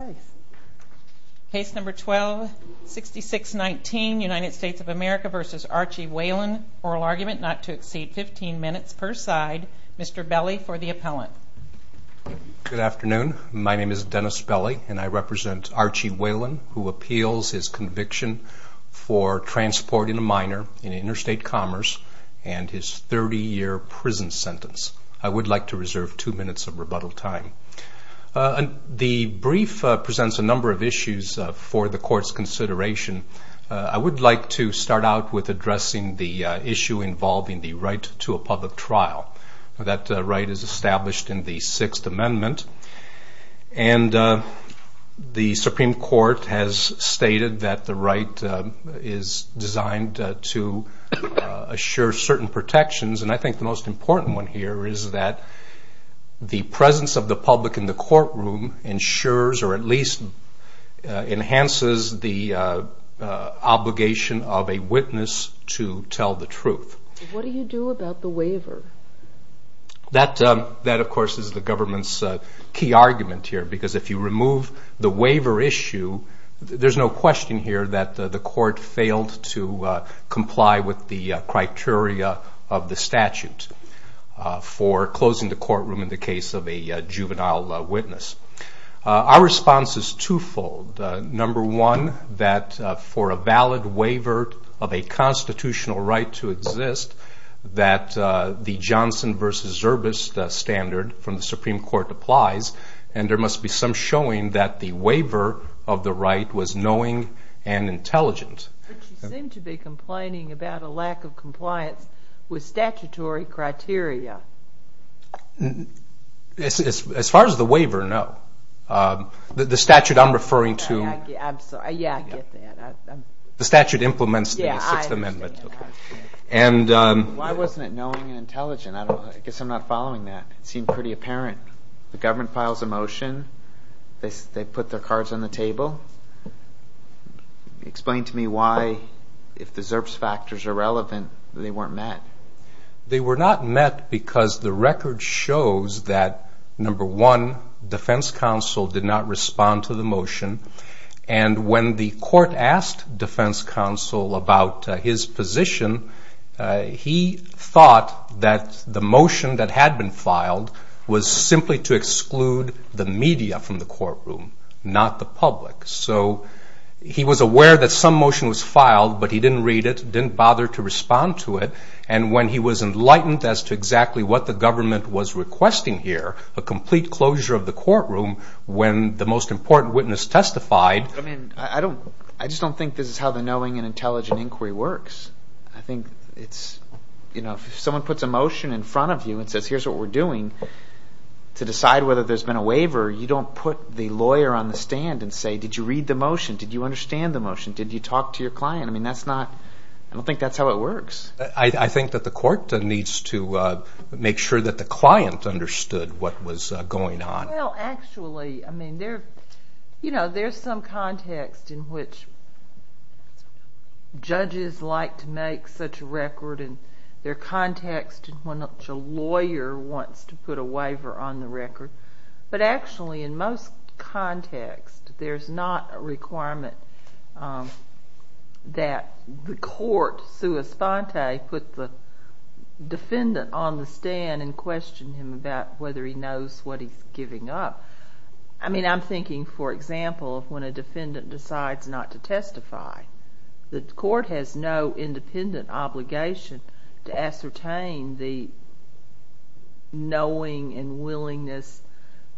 oral argument not to exceed 15 minutes per side. Mr. Belli for the appellant. Good afternoon. My name is Dennis Belli and I represent Archie Whalen who appeals his conviction for transporting a minor in interstate commerce and his 30-year prison sentence. I would like to reserve two minutes of rebuttal time. This bill presents a number of issues for the court's consideration. I would like to start out with addressing the issue involving the right to a public trial. That right is established in the Sixth Amendment and the Supreme Court has stated that the right is designed to assure certain protections and I think the most important one here is that the presence of the public in the police enhances the obligation of a witness to tell the truth. What do you do about the waiver? That of course is the government's key argument here because if you remove the waiver issue there's no question here that the court failed to comply with the criteria of the statute for closing the courtroom in the case of a juvenile witness. Our response is two-fold. Number one that for a valid waiver of a constitutional right to exist that the Johnson v. Zerbest standard from the Supreme Court applies and there must be some showing that the waiver of the right was knowing and intelligent. But you seem to be complaining about a lack of compliance with statutory criteria. As far as the waiver, no. The statute I'm referring to the statute implements the Sixth Amendment. Why wasn't it knowing and intelligent? I guess I'm not following that. It seemed pretty apparent. The government files a motion. They put their cards on the table. Explain to me why if the Zerbest factors are relevant they weren't met. They were not met because the record shows that number one, defense counsel did not respond to the motion and when the court asked defense counsel about his position he thought that the motion that had been filed was simply to exclude the media from the courtroom, not the public. He was aware that some motion was filed but he didn't read it, didn't bother to respond to it and when he was enlightened as to exactly what the government was requesting here, a complete closure of the courtroom when the most important witness testified. I just don't think this is how the knowing and intelligent inquiry works. If someone puts a motion in front of you and says here's what we're doing to decide whether there's been a waiver, you don't put the lawyer on the stand and say did you read the motion? Did you understand the motion? Did you talk to your client? I don't think that's how it works. I think that the court needs to make sure that the client understood what was going on. There's some context in which judges like to make such a record and their context in which a lawyer wants to put a waiver on the record but actually in most contexts there's not a requirement that the court put the defendant on the stand and question him about whether he knows what he's giving up. I'm thinking for example of when a defendant decides not to testify. The court has no independent obligation to ascertain the knowing and willingness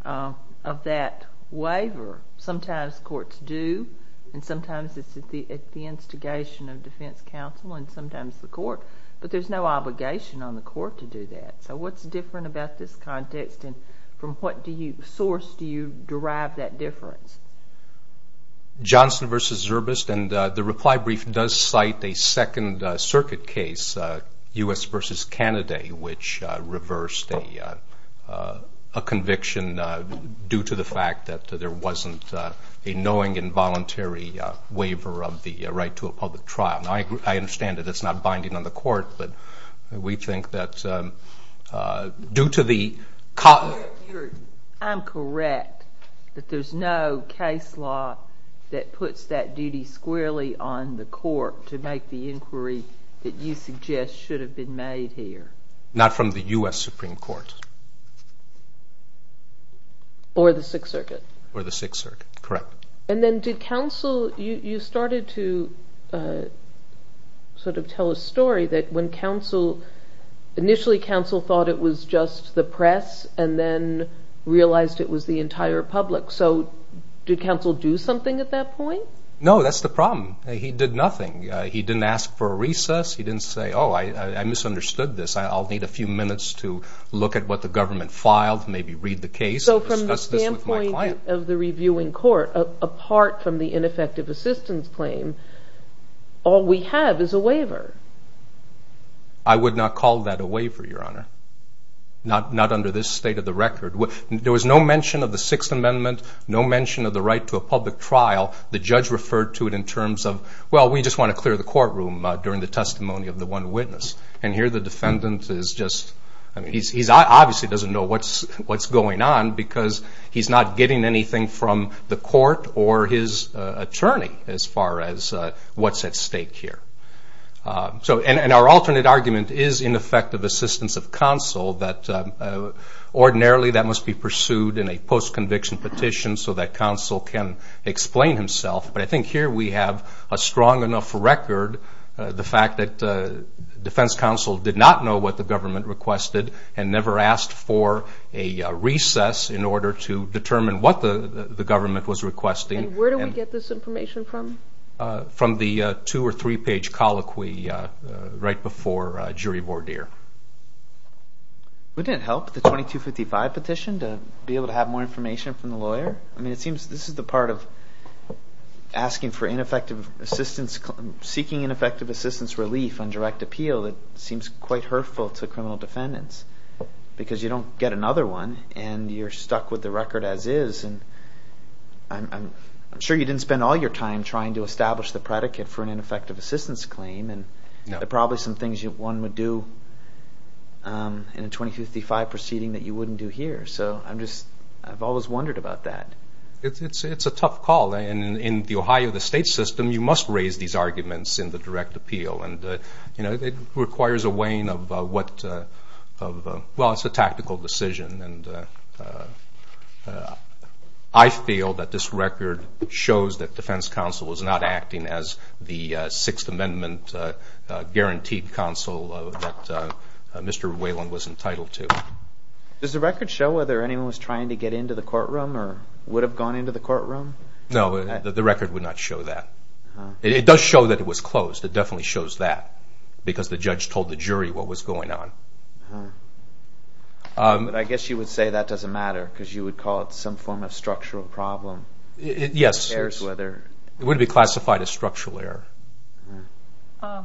of that waiver. Sometimes courts do and sometimes it's at the instigation of defense counsel and sometimes the court but there's no obligation on the court to do that. So what's different about this context and from what source do you derive that difference? Johnson v. Zurbist and the reply brief does cite a second circuit case, U.S. v. Canada, which reversed a conviction due to the fact that there wasn't a knowing and voluntary waiver of the right to a public trial. I understand that it's not binding on the court but we think that due to the... I'm correct that there's no case law that puts that duty squarely on the court to make the inquiry that you suggest should have been made here. Not from the U.S. Supreme Court? Or the Sixth Circuit? Or the Sixth Circuit, correct. And then did counsel... you started to sort of tell a story that when counsel initially counsel thought it was just the press and then realized it was the entire public so did counsel do something at that point? No, that's the problem. He did nothing. He didn't ask for a recess, he didn't say oh I misunderstood this I'll need a few minutes to look at what the government filed, maybe read the case and discuss this with my client. So from the standpoint of the reviewing court, apart from the ineffective assistance claim, all we have is a waiver. I would not call that a waiver, Your Honor. Not under this state of the record. There was no mention of the Sixth Amendment, no mention of the right to a public trial. The judge referred to it in terms of well we just want to clear the courtroom during the testimony of the one witness. And here the defendant is just... he obviously doesn't know what's going on because he's not getting anything from the court or his attorney as far as what's at stake here. And our alternate argument is ineffective assistance of counsel that ordinarily that must be pursued in a post-conviction petition so that counsel can explain himself. But I think here we have a strong enough record the fact that defense counsel did not know what the government requested and never asked for a recess in order to determine what the government was requesting. And where do we get this information from? From the two or three page colloquy right before jury voir dire. Would it help the 2255 petition to be able to have more information from the lawyer? I mean it seems this is the part of asking for ineffective assistance relief on direct appeal that seems quite hurtful to criminal defendants. Because you don't get another one and you're stuck with the record as is. I'm sure you didn't spend all your time trying to establish the predicate for an ineffective assistance claim. There are probably some things one would do in a 2255 proceeding that you wouldn't do here. So I've always wondered about that. It's a tough call. In the Ohio state system you must raise these arguments in the direct appeal. It requires a weighing of what, well it's a tactical decision. I feel that this record shows that defense counsel is not acting as the Sixth Amendment guaranteed counsel that Mr. Whalen was entitled to. Does the record show whether anyone was trying to get into the courtroom or would have gone into the courtroom? No, the record would not show that. It does show that it was closed. It definitely shows that because the judge told the jury what was going on. I guess you would say that doesn't matter because you would call it some form of structural problem. Yes. It would be classified as structural error. Mr.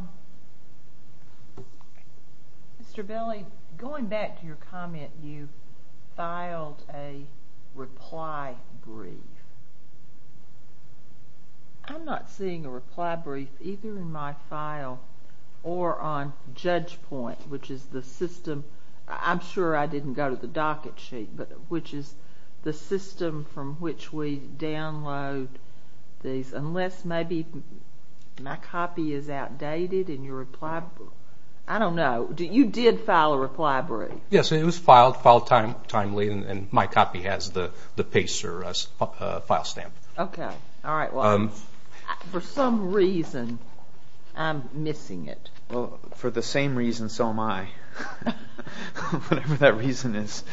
Belli, going back to your comment, you filed a reply brief. I'm not seeing a reply brief either in my file or on JudgePoint, which is the system, I'm sure I didn't go to the docket sheet, but which is the system from which we download these, unless maybe my copy is outdated and your reply, I don't know. You did file a reply brief. Yes, it was filed timely and my copy has the paste or file stamp. For some reason, I'm missing it. For the same reason, so am I. Whatever that reason is.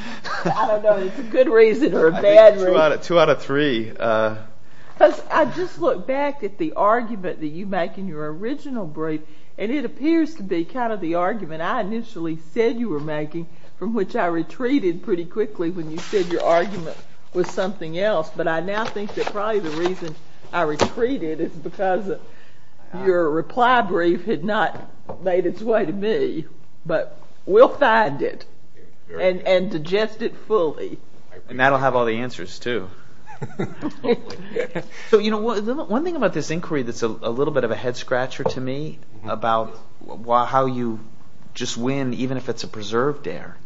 I don't know if it's a good reason or a bad reason. Two out of three. I just look back at the argument that you make in your original brief and it appears to be kind of the argument I initially said you were making from which I retreated pretty quickly when you said your argument was something else, but I now think that probably the reason I retreated is because your reply brief had not made its way to me, but we'll find it and digest it fully. And that'll have all the answers too. One thing about this inquiry that's a little bit of a head-scratcher to me about how you just win even if it's a preserved error.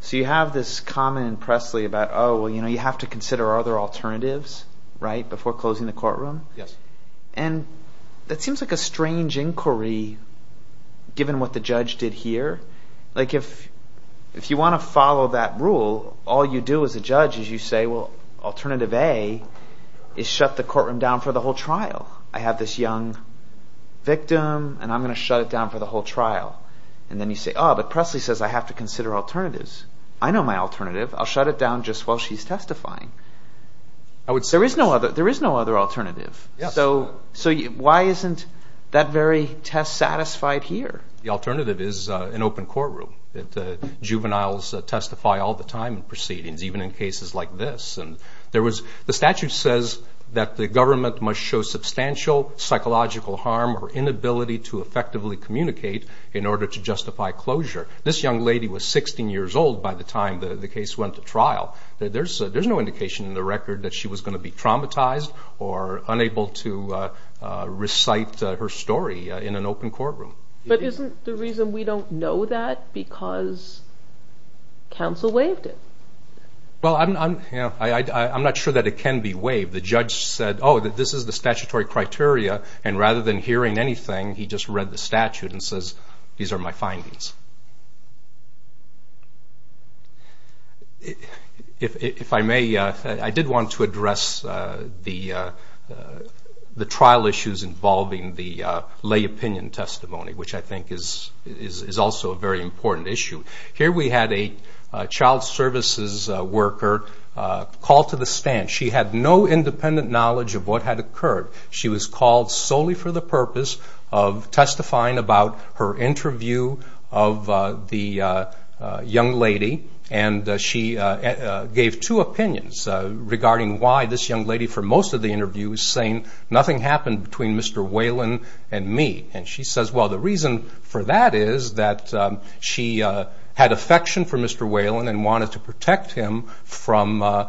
So you have this comment in Presley about you have to consider other alternatives before closing the courtroom. And that seems like a strange inquiry given what the judge did here. If you want to follow that rule, all you do as a judge is you say alternative A is shut the courtroom down for the whole trial. I have this young victim and I'm going to shut it down for the whole trial. Presley says I have to consider alternatives. I know my alternative. I'll shut it down just while she's testifying. There is no other alternative. So why isn't that very test satisfied here? The alternative is an open courtroom. Juveniles testify all the time in proceedings, even in cases like this. The statute says that the government must show substantial psychological harm or inability to effectively communicate in order to justify closure. This young lady was 16 years old by the time the case went to trial. There's no indication in the record that she was going to be traumatized or unable to recite her story in an open courtroom. But isn't the reason we don't know that because counsel waived it? I'm not sure that it can be waived. The judge said this is the statutory criteria and rather than hearing anything he just read the statute and says these are my findings. I did want to address the trial issues involving the lay opinion testimony which I think is also a very important issue. Here we had a child services worker called to the stand. She had no independent knowledge of what had occurred. She was called solely for the purpose of testifying about her interview of the young lady. She gave two opinions regarding why this young lady for most of the interview was saying nothing happened between Mr. Whelan and me. She says the reason for that is that she had affection for Mr. Whelan and wanted to protect him from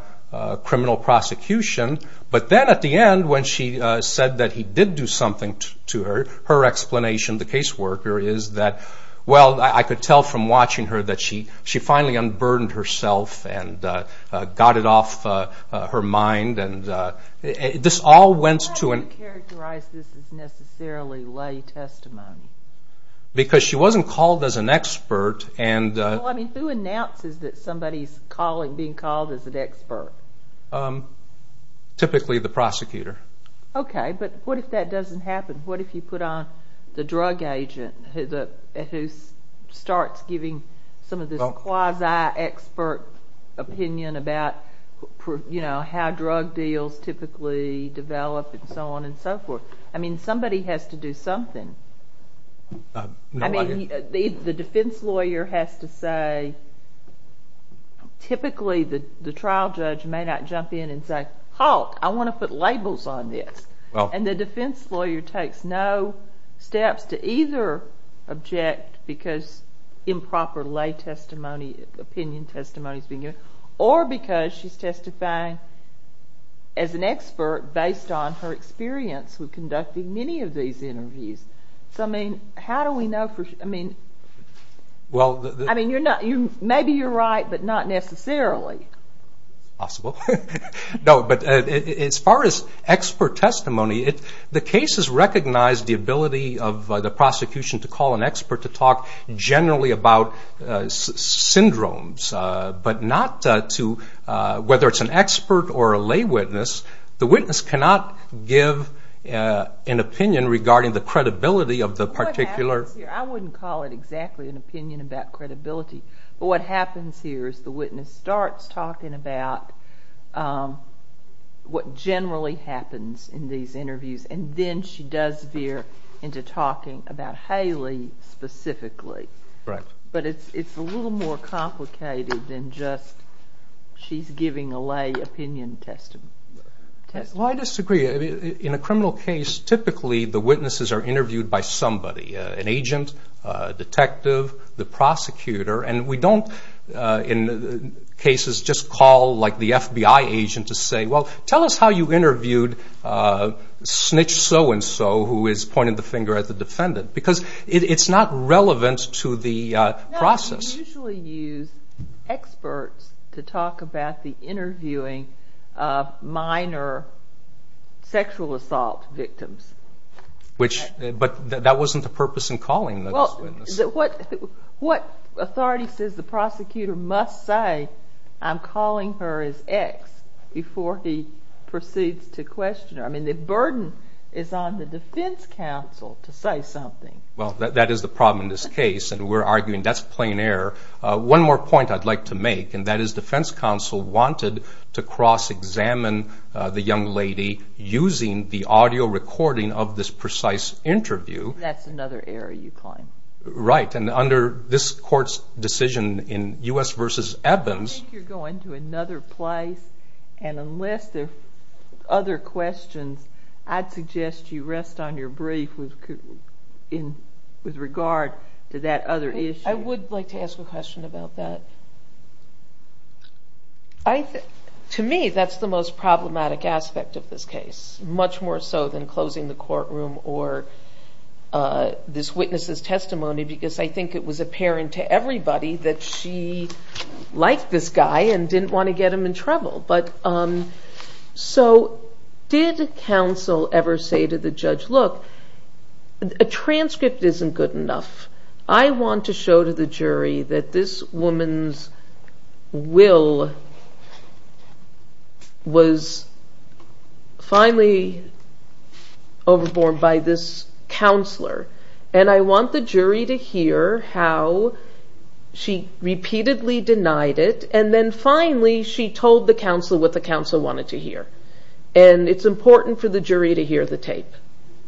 criminal prosecution. But then at the end when she said that he did do something to her, her explanation the caseworker is that, well I could tell from watching her that she finally unburdened herself and got it off her mind. How do you characterize this as necessarily lay testimony? Because she wasn't called as an expert. Who announces that somebody is being called as an expert? Typically the prosecutor. But what if that doesn't happen? What if you put on the drug agent who starts giving some of this quasi expert opinion about how drug deals typically develop and so on and so forth. Somebody has to do something. The defense lawyer has to say typically the trial judge may not jump in and say Halt! I want to put labels on this. And the defense lawyer takes no steps to either object because improper lay testimony, opinion testimony is being given or because she's testifying as an expert based on her experience with conducting many of these interviews. So I mean, how do we know for sure? Maybe you're right, but not necessarily. As far as expert testimony, the cases recognize the ability of the prosecution to call an expert to talk generally about syndromes, but not to whether it's an expert or a lay witness. The witness cannot give an opinion regarding the credibility of the particular... I wouldn't call it exactly an opinion about credibility, but what happens here is the witness starts talking about what generally happens in these interviews and then she does veer into talking about Haley specifically. But it's a little more complicated than just she's giving a lay opinion testimony. Well, I disagree. In a criminal case, typically the witnesses are interviewed by somebody, an agent, a detective, the prosecutor, and we don't in cases just call the FBI agent to say, well, tell us how you interviewed snitch so-and-so who is pointing the finger at the defendant because it's not relevant to the process. No, we usually use experts to talk about the interviewing of minor sexual assault victims. But that wasn't the purpose in calling the witness. What authority says the prosecutor must say I'm calling her as X before he proceeds to question her? I mean, the burden is on the defense counsel to say something. Well, that is the problem in this case and we're arguing that's plain error. One more point I'd like to make and that is defense counsel wanted to cross-examine the young lady using the audio recording of this precise interview. That's another error you coined. Right, and under this court's decision in U.S. v. Evans I think you're going to another place and unless there are other questions, I'd suggest you rest on your brief with regard to that other issue. I would like to ask a question about that. To me, that's the most problematic aspect of this case, much more so than closing the courtroom or this witness's testimony because I think it was apparent to everybody that she liked this guy and didn't want to get him in trouble. So did counsel ever say to the judge, look, a transcript isn't good enough. I want to show to the jury that this woman's will was finally overborne by this counselor and I want the jury to hear how she repeatedly denied it and then finally she told the counselor what the counselor wanted to hear and it's important for the jury to hear the tape.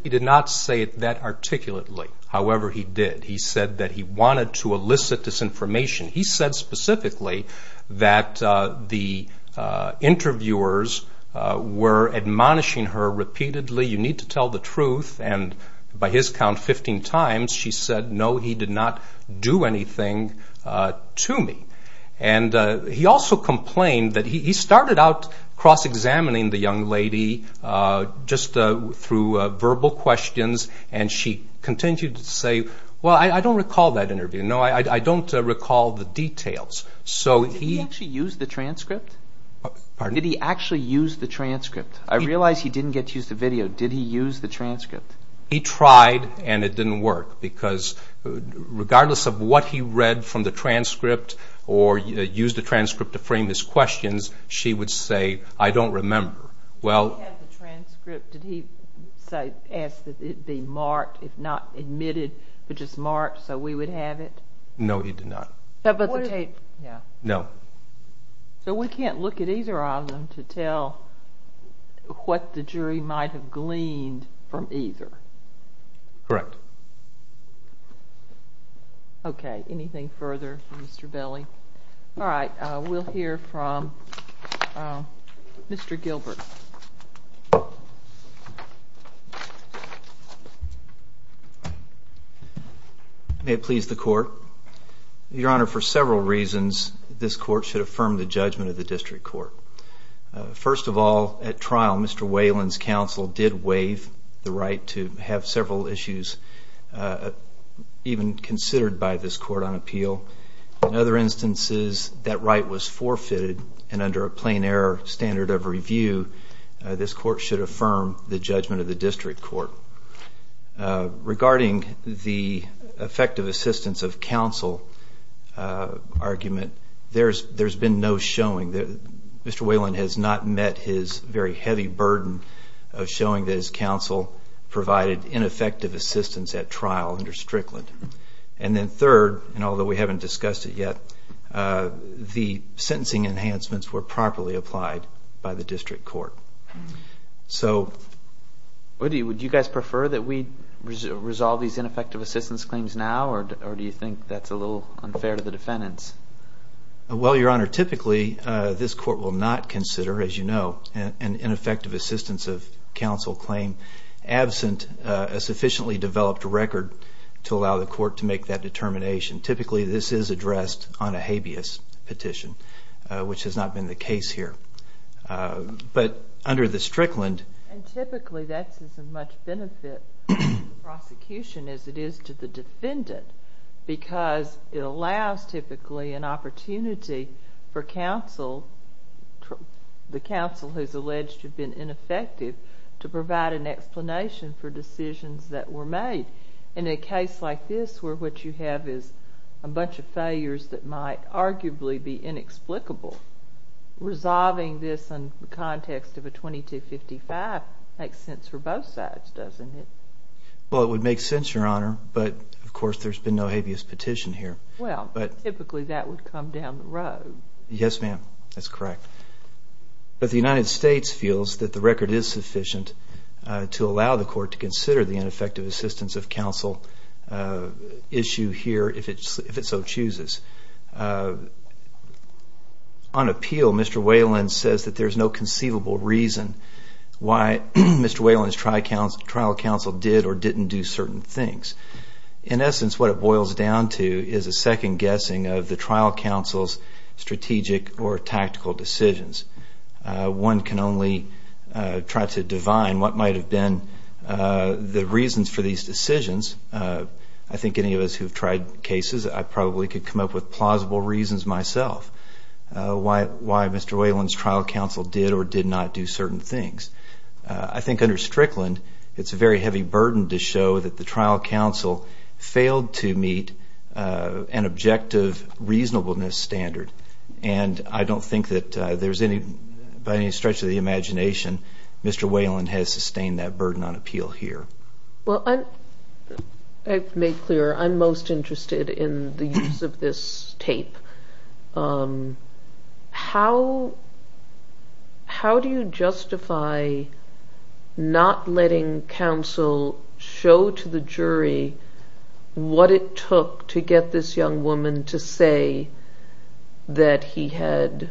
He did not say it that articulately, however he did. He said that he wanted to elicit disinformation. He said specifically that the interviewers were admonishing her repeatedly, you need to tell the truth, and by his count 15 times she said no, he did not do anything to me. He also complained that he started out cross-examining the young lady just through verbal questions and she continued to say well I don't recall that interview, I don't recall the details. Did he actually use the transcript? I realize he didn't get to use the video, did he use the transcript? He tried and it didn't work because regardless of what he read from the transcript or used the transcript to frame his questions, she would say I don't remember. Did he ask that it be marked if not admitted, but just marked so we would have it? No he did not. So we can't look at either of them to tell what the jury might have gleaned from either? Correct. Okay, anything further Mr. Belli? Alright, we'll hear from Mr. Gilbert. May it please the court. Your Honor, for several reasons this court should affirm the judgment of the district court. First of all, at trial Mr. Whalen's counsel did waive the right to have several issues even considered by this court on appeal. In other instances that right was forfeited and under a plain error standard of review, the court should affirm the judgment of the district court. Regarding the effective assistance of counsel argument, there's been no showing that Mr. Whalen has not met his very heavy burden of showing that his counsel provided ineffective assistance at trial under Strickland. And then third, although we haven't discussed it yet, the sentencing enhancements were properly applied by the district court. Would you guys prefer that we resolve these ineffective assistance claims now or do you think that's a little unfair to the defendants? Well, Your Honor, typically this court will not consider, as you know, an ineffective assistance of counsel claim absent a sufficiently developed record to allow the court to make that determination. Typically this is addressed on a habeas petition which has not been the case here. But under the Strickland... And typically that's as much benefit to the prosecution as it is to the defendant because it allows typically an opportunity for counsel the counsel who's alleged to have been ineffective to provide an explanation for decisions that were made. In a case like this where what you have is a bunch of failures that might arguably be inexplicable, resolving this in the context of a 2255 makes sense for both sides, doesn't it? Well, it would make sense, Your Honor, but of course there's been no habeas petition here. Well, typically that would come down the road. Yes, ma'am. That's correct. But the United States feels that the record is sufficient to allow the court to consider the ineffective assistance of counsel issue here if it so chooses. On appeal, Mr. Whalen says that there's no conceivable reason why Mr. Whalen's trial counsel did or didn't do certain things. In essence, what it boils down to is a second guessing of the trial counsel's strategic or tactical decisions. One can only try to divine what might have been the reasons for these decisions. I think any of us who have tried cases, I probably could come up with plausible reasons myself why Mr. Whalen's trial counsel did or did not do certain things. I think under Strickland it's a very heavy burden to show that the trial counsel failed to meet an objective reasonableness standard. And I don't think that there's any, by any stretch of the imagination, Mr. Whalen has sustained that burden on appeal here. I've made clear I'm most interested in the use of this tape. How do you justify not letting counsel show to the jury what it took to get this young woman to say that he had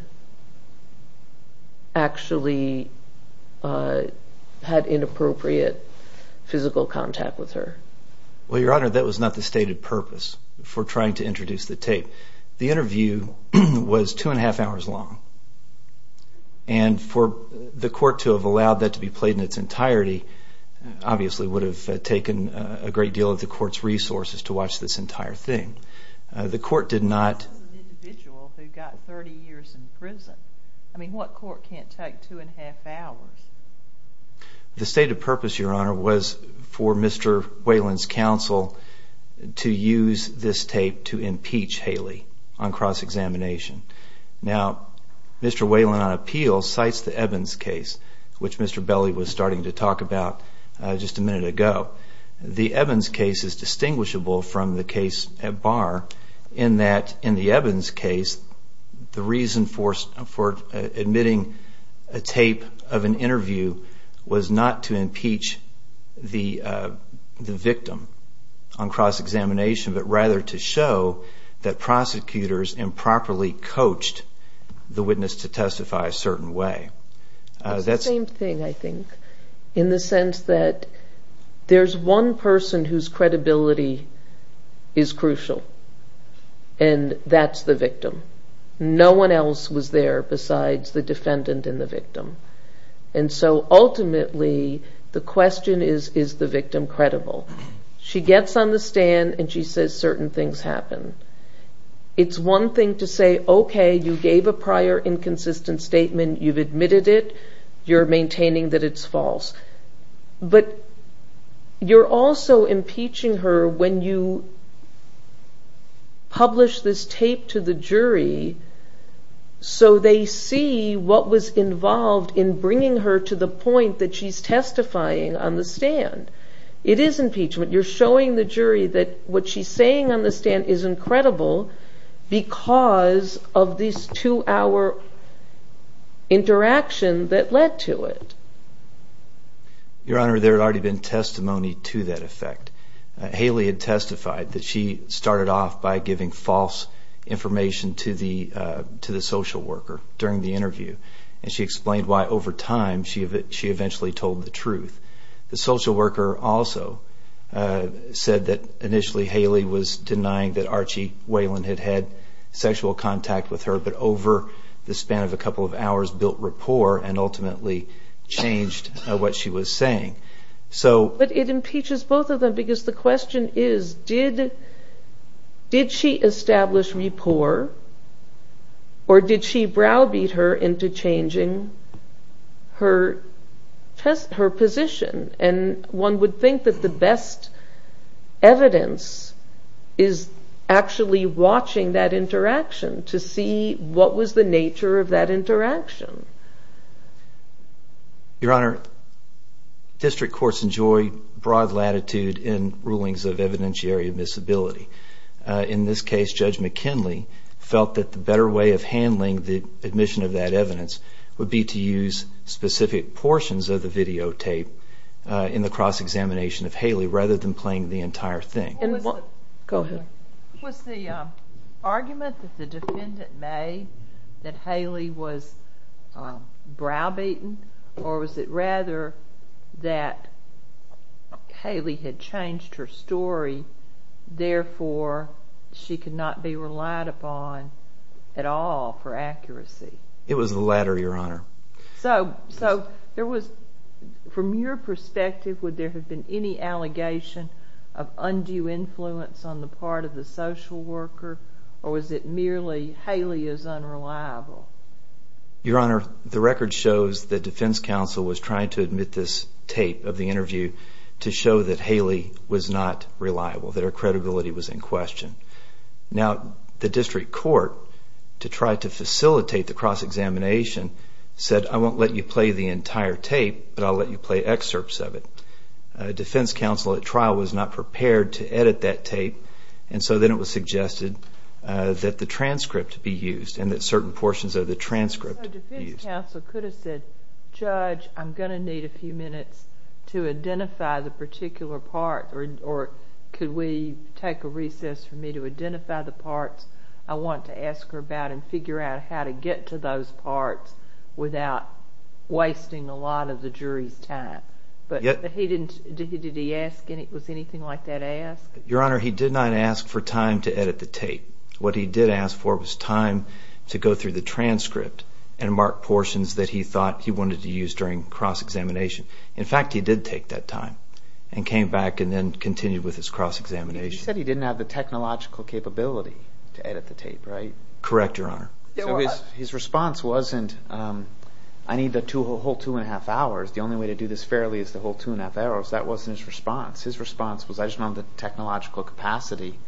actually had inappropriate physical contact with her? Well, Your Honor, that was not the stated purpose for trying to introduce the tape. The interview was two and a half hours long. And for the court to have allowed that to be played in its entirety, obviously would have taken a great deal of the court's resources to watch this entire thing. The court did not... As an individual who got 30 years in prison, I mean, what court can't take two and a half hours? The stated purpose, Your Honor, was for Mr. Whalen's counsel to use this tape to impeach Haley on cross-examination. Now, Mr. Whalen on appeal cites the Evans case, which Mr. Belli was starting to talk about just a minute ago. The Evans case is distinguishable from the case at bar in that in the Evans case the reason for admitting a tape of an interview was not to impeach the victim on cross-examination, but rather to show that prosecutors improperly coached the witness to testify a certain way. It's the same thing, I think, in the sense that there's one person whose credibility is crucial and that's the victim. No one else was there besides the defendant and the victim. And so ultimately, the question is, is the victim credible? She gets on the stand and she says certain things happened. It's one thing to say, okay, you gave a prior inconsistent statement, you've admitted it, you're maintaining that it's false. But you're also impeaching her when you publish this tape to the jury so they see what was involved in bringing her to the point that she's testifying on the stand. It is impeachment. You're showing the jury that what she's saying on the stand is incredible because of this two-hour interaction that led to it. Your Honor, there had already been testimony to that effect. Haley had testified that she started off by giving false information to the social worker during the interview and she explained why over time she eventually told the truth. The social worker also said that initially Haley was denying that Archie Whelan had had sexual contact with her but over the span of a couple of hours built rapport and ultimately changed what she was saying. But it impeaches both of them because the question is did she establish rapport or did she browbeat her into changing her position? One would think that the best evidence is actually watching that interaction to see what was the nature of that interaction. Your Honor, district courts enjoy broad latitude in rulings of evidentiary admissibility. In this case, Judge McKinley felt that the better way of handling the admission of that evidence would be to use specific portions of the videotape in the cross examination of Haley rather than playing the entire thing. Was the argument that the defendant made that Haley was browbeaten or was it rather that Haley had changed her story therefore she could not be relied upon at all for accuracy? It was the latter, Your Honor. From your perspective, would there have been any allegation of undue influence on the part of the social worker or was it merely Haley is unreliable? Your Honor, the record shows that defense counsel was trying to admit this tape of the interview to show that Haley was not reliable, that her credibility was in question. Now, the district court to try to facilitate the cross examination said, I won't let you play the entire tape, but I'll let you play excerpts of it. Defense counsel at trial was not prepared to edit that tape and so then it was suggested that the transcript be used and that certain portions of the transcript be used. So defense counsel could have said, Judge, I'm going to need a few minutes to identify the particular part or could we take a recess for me to identify the parts I want to ask her about and figure out how to get to those parts without wasting a lot of the jury's time. But did he ask, was anything like that asked? Your Honor, he did not ask for time to edit the tape. What he did ask for was time to go through the transcript and mark portions that he thought he wanted to use during cross examination. In fact, he did take that time and came back and then continued with his cross examination. He said he didn't have the technological capability to edit the tape, right? Correct, Your Honor. So his response wasn't I need the whole two and a half hours. The only way to do this fairly is the whole two and a half hours. That wasn't his response. His response was I just don't have the technological capacity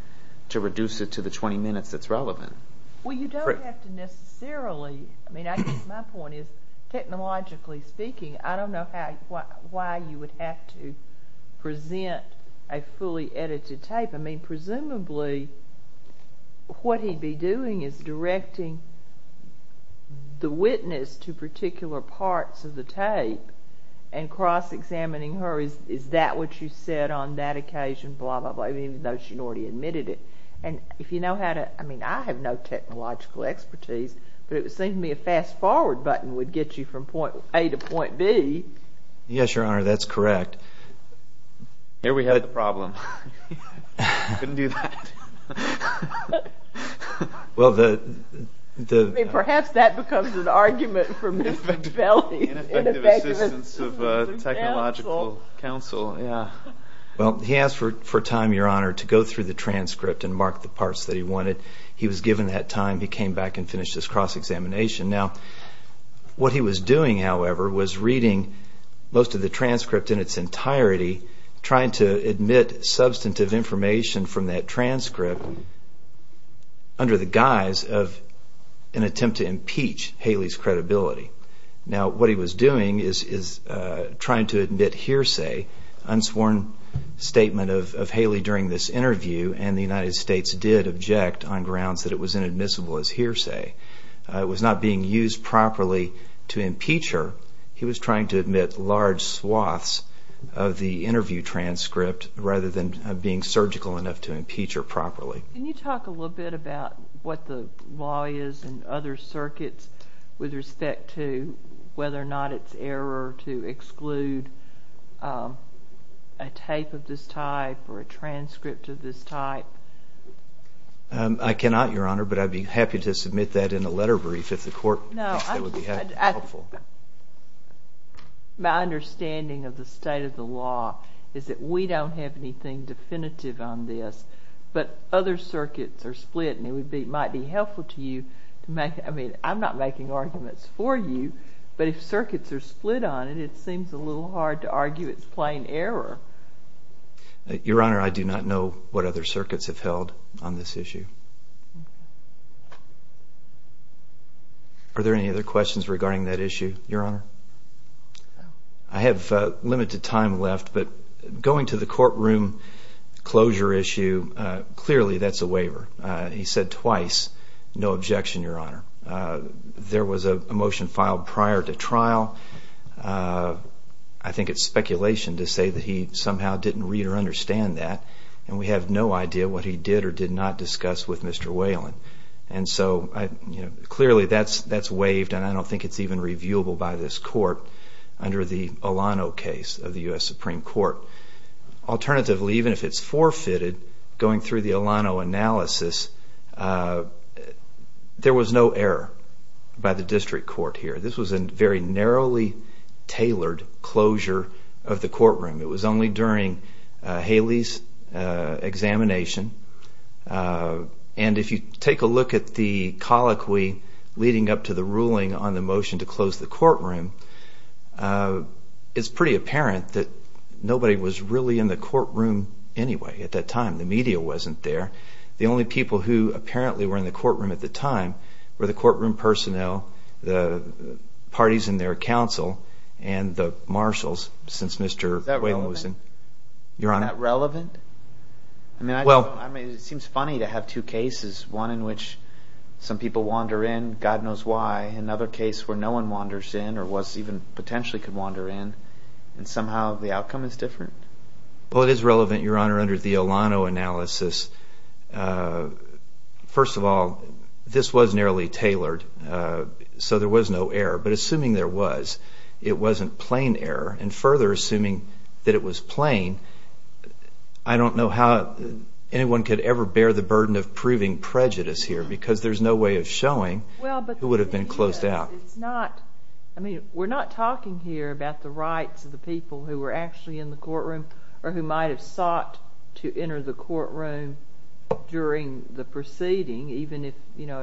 to reduce it to the 20 minutes that's relevant. Well, you don't have to necessarily, I mean, I guess my point is technologically speaking, I don't know why you would have to present a fully edited tape. I mean, presumably what he'd be doing is directing the witness to particular parts of the tape and cross examining her. Is that what you said on that occasion? Blah, blah, blah, even though she'd already admitted it. And if you know how to I mean, I have no technological expertise, but it would seem to me a fast forward button would get you from point A to point B. Yes, Your Honor, that's correct. Here we had a problem. Couldn't do that. Perhaps that becomes an argument for Miss Technological Counsel. Well, he asked for time, Your Honor, to go through the transcript and mark the parts that he wanted. He was given that time. He came back and finished his cross-examination. Now, what he was doing, however, was reading most of the transcript in its entirety, trying to admit substantive information from that transcript under the guise of an attempt to impeach Haley's credibility. Now, what he was doing is trying to admit hearsay, unsworn statement of Haley during this interview and the United States did object on grounds that it was inadmissible as hearsay. It was not being used properly to impeach her. He was trying to admit large swaths of the interview transcript rather than being surgical enough to impeach her properly. Can you talk a little bit about what the law is and other circuits with respect to whether or not it's error to exclude a tape of this type or a transcript of this type? I cannot, Your Honor, but I'd be happy to submit that in a letter brief if the court thinks that would be helpful. My understanding of the state of the law is that we don't have anything definitive on this, but other circuits are split and it might be I'm not making arguments for you, but if circuits are split on it it seems a little hard to argue it's plain error. Your Honor, I do not know what other circuits have held on this issue. Are there any other questions regarding that issue, Your Honor? I have limited time left, but going to the courtroom closure issue, clearly that's a waiver. He said twice no objection, Your Honor. There was a motion filed prior to trial. I think it's speculation to say that he somehow didn't read or understand that and we have no idea what he did or did not discuss with Mr. Whalen. Clearly that's waived and I don't think it's even reviewable by this court under the Alano case of the U.S. Supreme Court. Alternatively, even if it's forfeited, going through the Alano analysis, there was no error by the district court here. This was a very narrowly tailored closure of the courtroom. It was only during Haley's examination and if you take a look at the colloquy leading up to the ruling on the motion to close the courtroom, it's pretty apparent that nobody was really in the courtroom anyway at that time. The media wasn't there. The only people who apparently were in the courtroom at the time were the courtroom personnel, the parties and their counsel, and the marshals since Mr. Whalen was in. Is that relevant? It seems funny to have two cases. One in which some people wander in, God knows why. Another case where no one wanders in or even potentially could wander in and somehow the outcome is different. Well, it is relevant, Your Honor, under the Alano analysis. First of all, this was narrowly tailored so there was no error. But assuming there was, it wasn't plain error. And further, assuming that it was plain, I don't know how anyone could ever bear the burden of proving prejudice here because there's no way of showing who would have been closed out. I mean, we're not talking here about the rights of the people who were actually in the courtroom or who might have sought to enter the courtroom during the proceeding, even if, you know,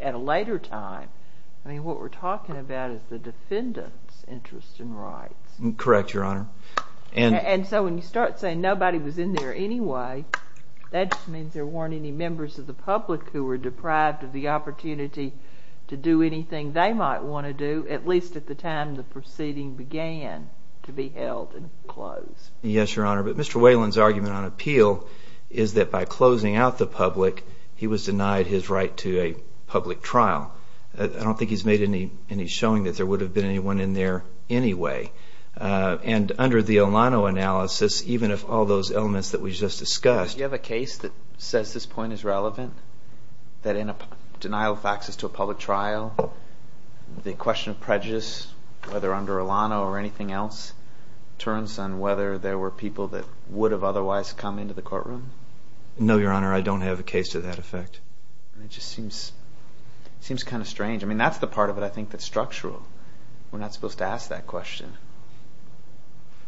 at a later time. I mean, what we're talking about is the defendant's interest in rights. Correct, Your Honor. And so when you start saying nobody was in there anyway, that just means there weren't any members of the public who were deprived of the opportunity to do anything they might want to do, at least at the time the proceeding began to be held and closed. Yes, Your Honor. But Mr. Whalen's argument on appeal is that by closing out the public, he was denied his right to a public trial. I don't think he's made any showing that there would have been anyone in there anyway. And under the Alano analysis, even if all those elements that we just discussed... Do you have a case that says this point is relevant? That in a denial of access to a public trial, the question of prejudice, whether under Alano or anything else, turns on whether there were people that would have otherwise come into the courtroom? No, Your Honor. I don't have a case to that effect. That just seems kind of strange. I mean, that's the part of it I think that's structural. We're not supposed to ask that question.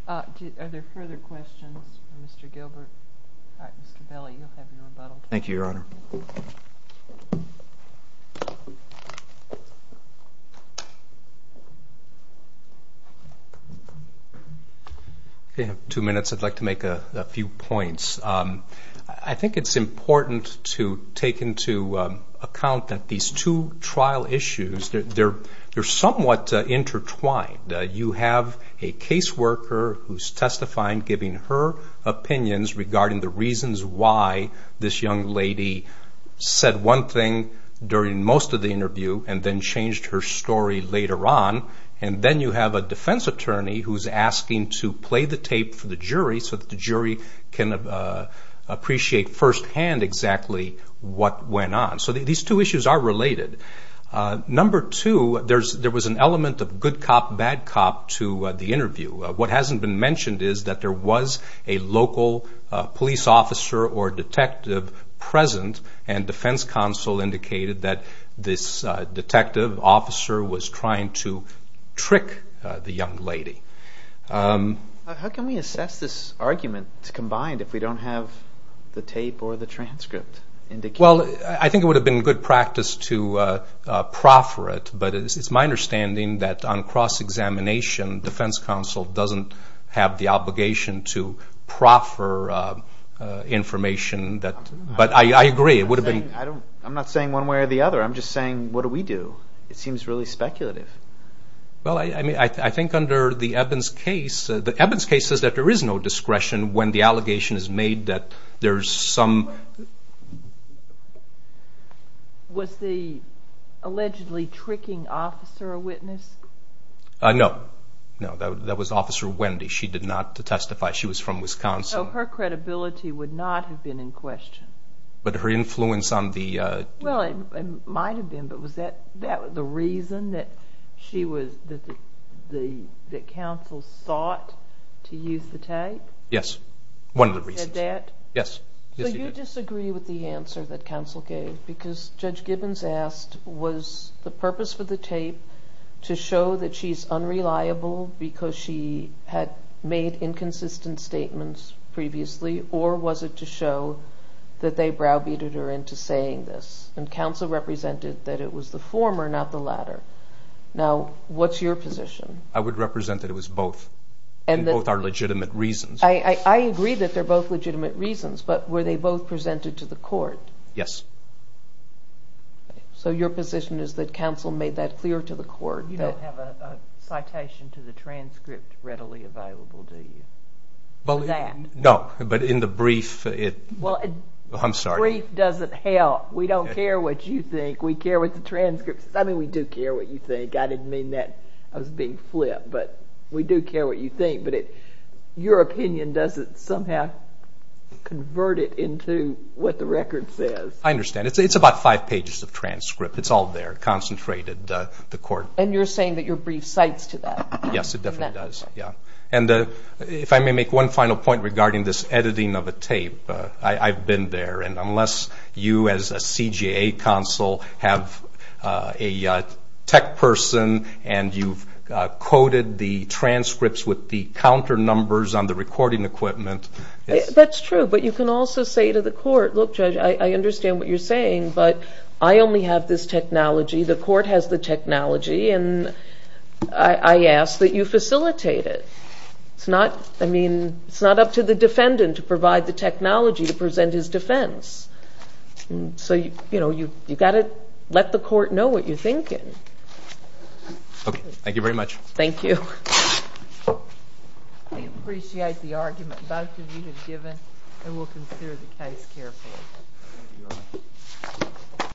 Are there further questions for Mr. Gilbert? All right, Mr. Belli, you'll have your rebuttal. Thank you, Your Honor. Okay, I have two minutes. I'd like to make a few points. I think it's important to take into account that these two trial issues, they're somewhat intertwined. You have a caseworker who's testifying, giving her opinions regarding the reasons why this young lady said one thing during most of the interview and then changed her story later on. And then you have a defense attorney who's asking to play the tape for the jury so that the jury can appreciate firsthand exactly what went on. So these two issues are related. Number two, there was an element of good cop, bad cop to the interview. What hasn't been mentioned is that there was a local police officer or detective present and the defense counsel indicated that this detective officer was trying to trick the young lady. How can we assess this argument combined if we don't have the tape or the transcript indicated? Well, I think it would have been good practice to proffer it, but it's my understanding that on cross-examination, defense counsel doesn't have the obligation to proffer information but I agree. I'm not saying one way or the other. I'm just saying, what do we do? It seems really speculative. I think under the Evans case, the Evans case says that there is no discretion when the allegation is made that there's some... Was the allegedly tricking officer a witness? No. That was Officer Wendy. She did not testify. She was from Wisconsin. So her credibility would not have been in question. But her influence on the... Well, it might have been, but was that the reason that she was... that counsel sought to use the tape? Yes. One of the reasons. Did that? Yes. So you disagree with the answer that counsel gave because Judge Gibbons asked, was the purpose for the tape to show that she's unreliable because she had made inconsistent statements previously or was it to show that they browbeated her into saying this? And counsel represented that it was the former, not the latter. Now, what's your position? I would represent that it was both. And both are legitimate reasons. I agree that they're both legitimate reasons, but were they both presented to the court? Yes. So your position is that counsel made that clear to the court? You don't have a citation to the that? No. But in the brief, I'm sorry. Brief doesn't help. We don't care what you think. We care what the transcript says. I mean, we do care what you think. I didn't mean that as being flip. But we do care what you think. But your opinion doesn't somehow convert it into what the record says. I understand. It's about five pages of transcript. It's all there concentrated. And you're saying that your brief cites to that? Yes. It definitely does. And if I may make one final point regarding this editing of a tape. I've been there. And unless you as a CJA counsel have a tech person and you've coded the transcripts with the counter numbers on the recording equipment. That's true. But you can also say to the court, look Judge, I understand what you're saying, but I only have this technology. The court has the technology. And I ask that you facilitate it. It's not up to the defendant to provide the technology to present his defense. So you've got to let the court know what you're thinking. Thank you very much. Thank you. I appreciate the argument both of you have given. And we'll consider the case carefully.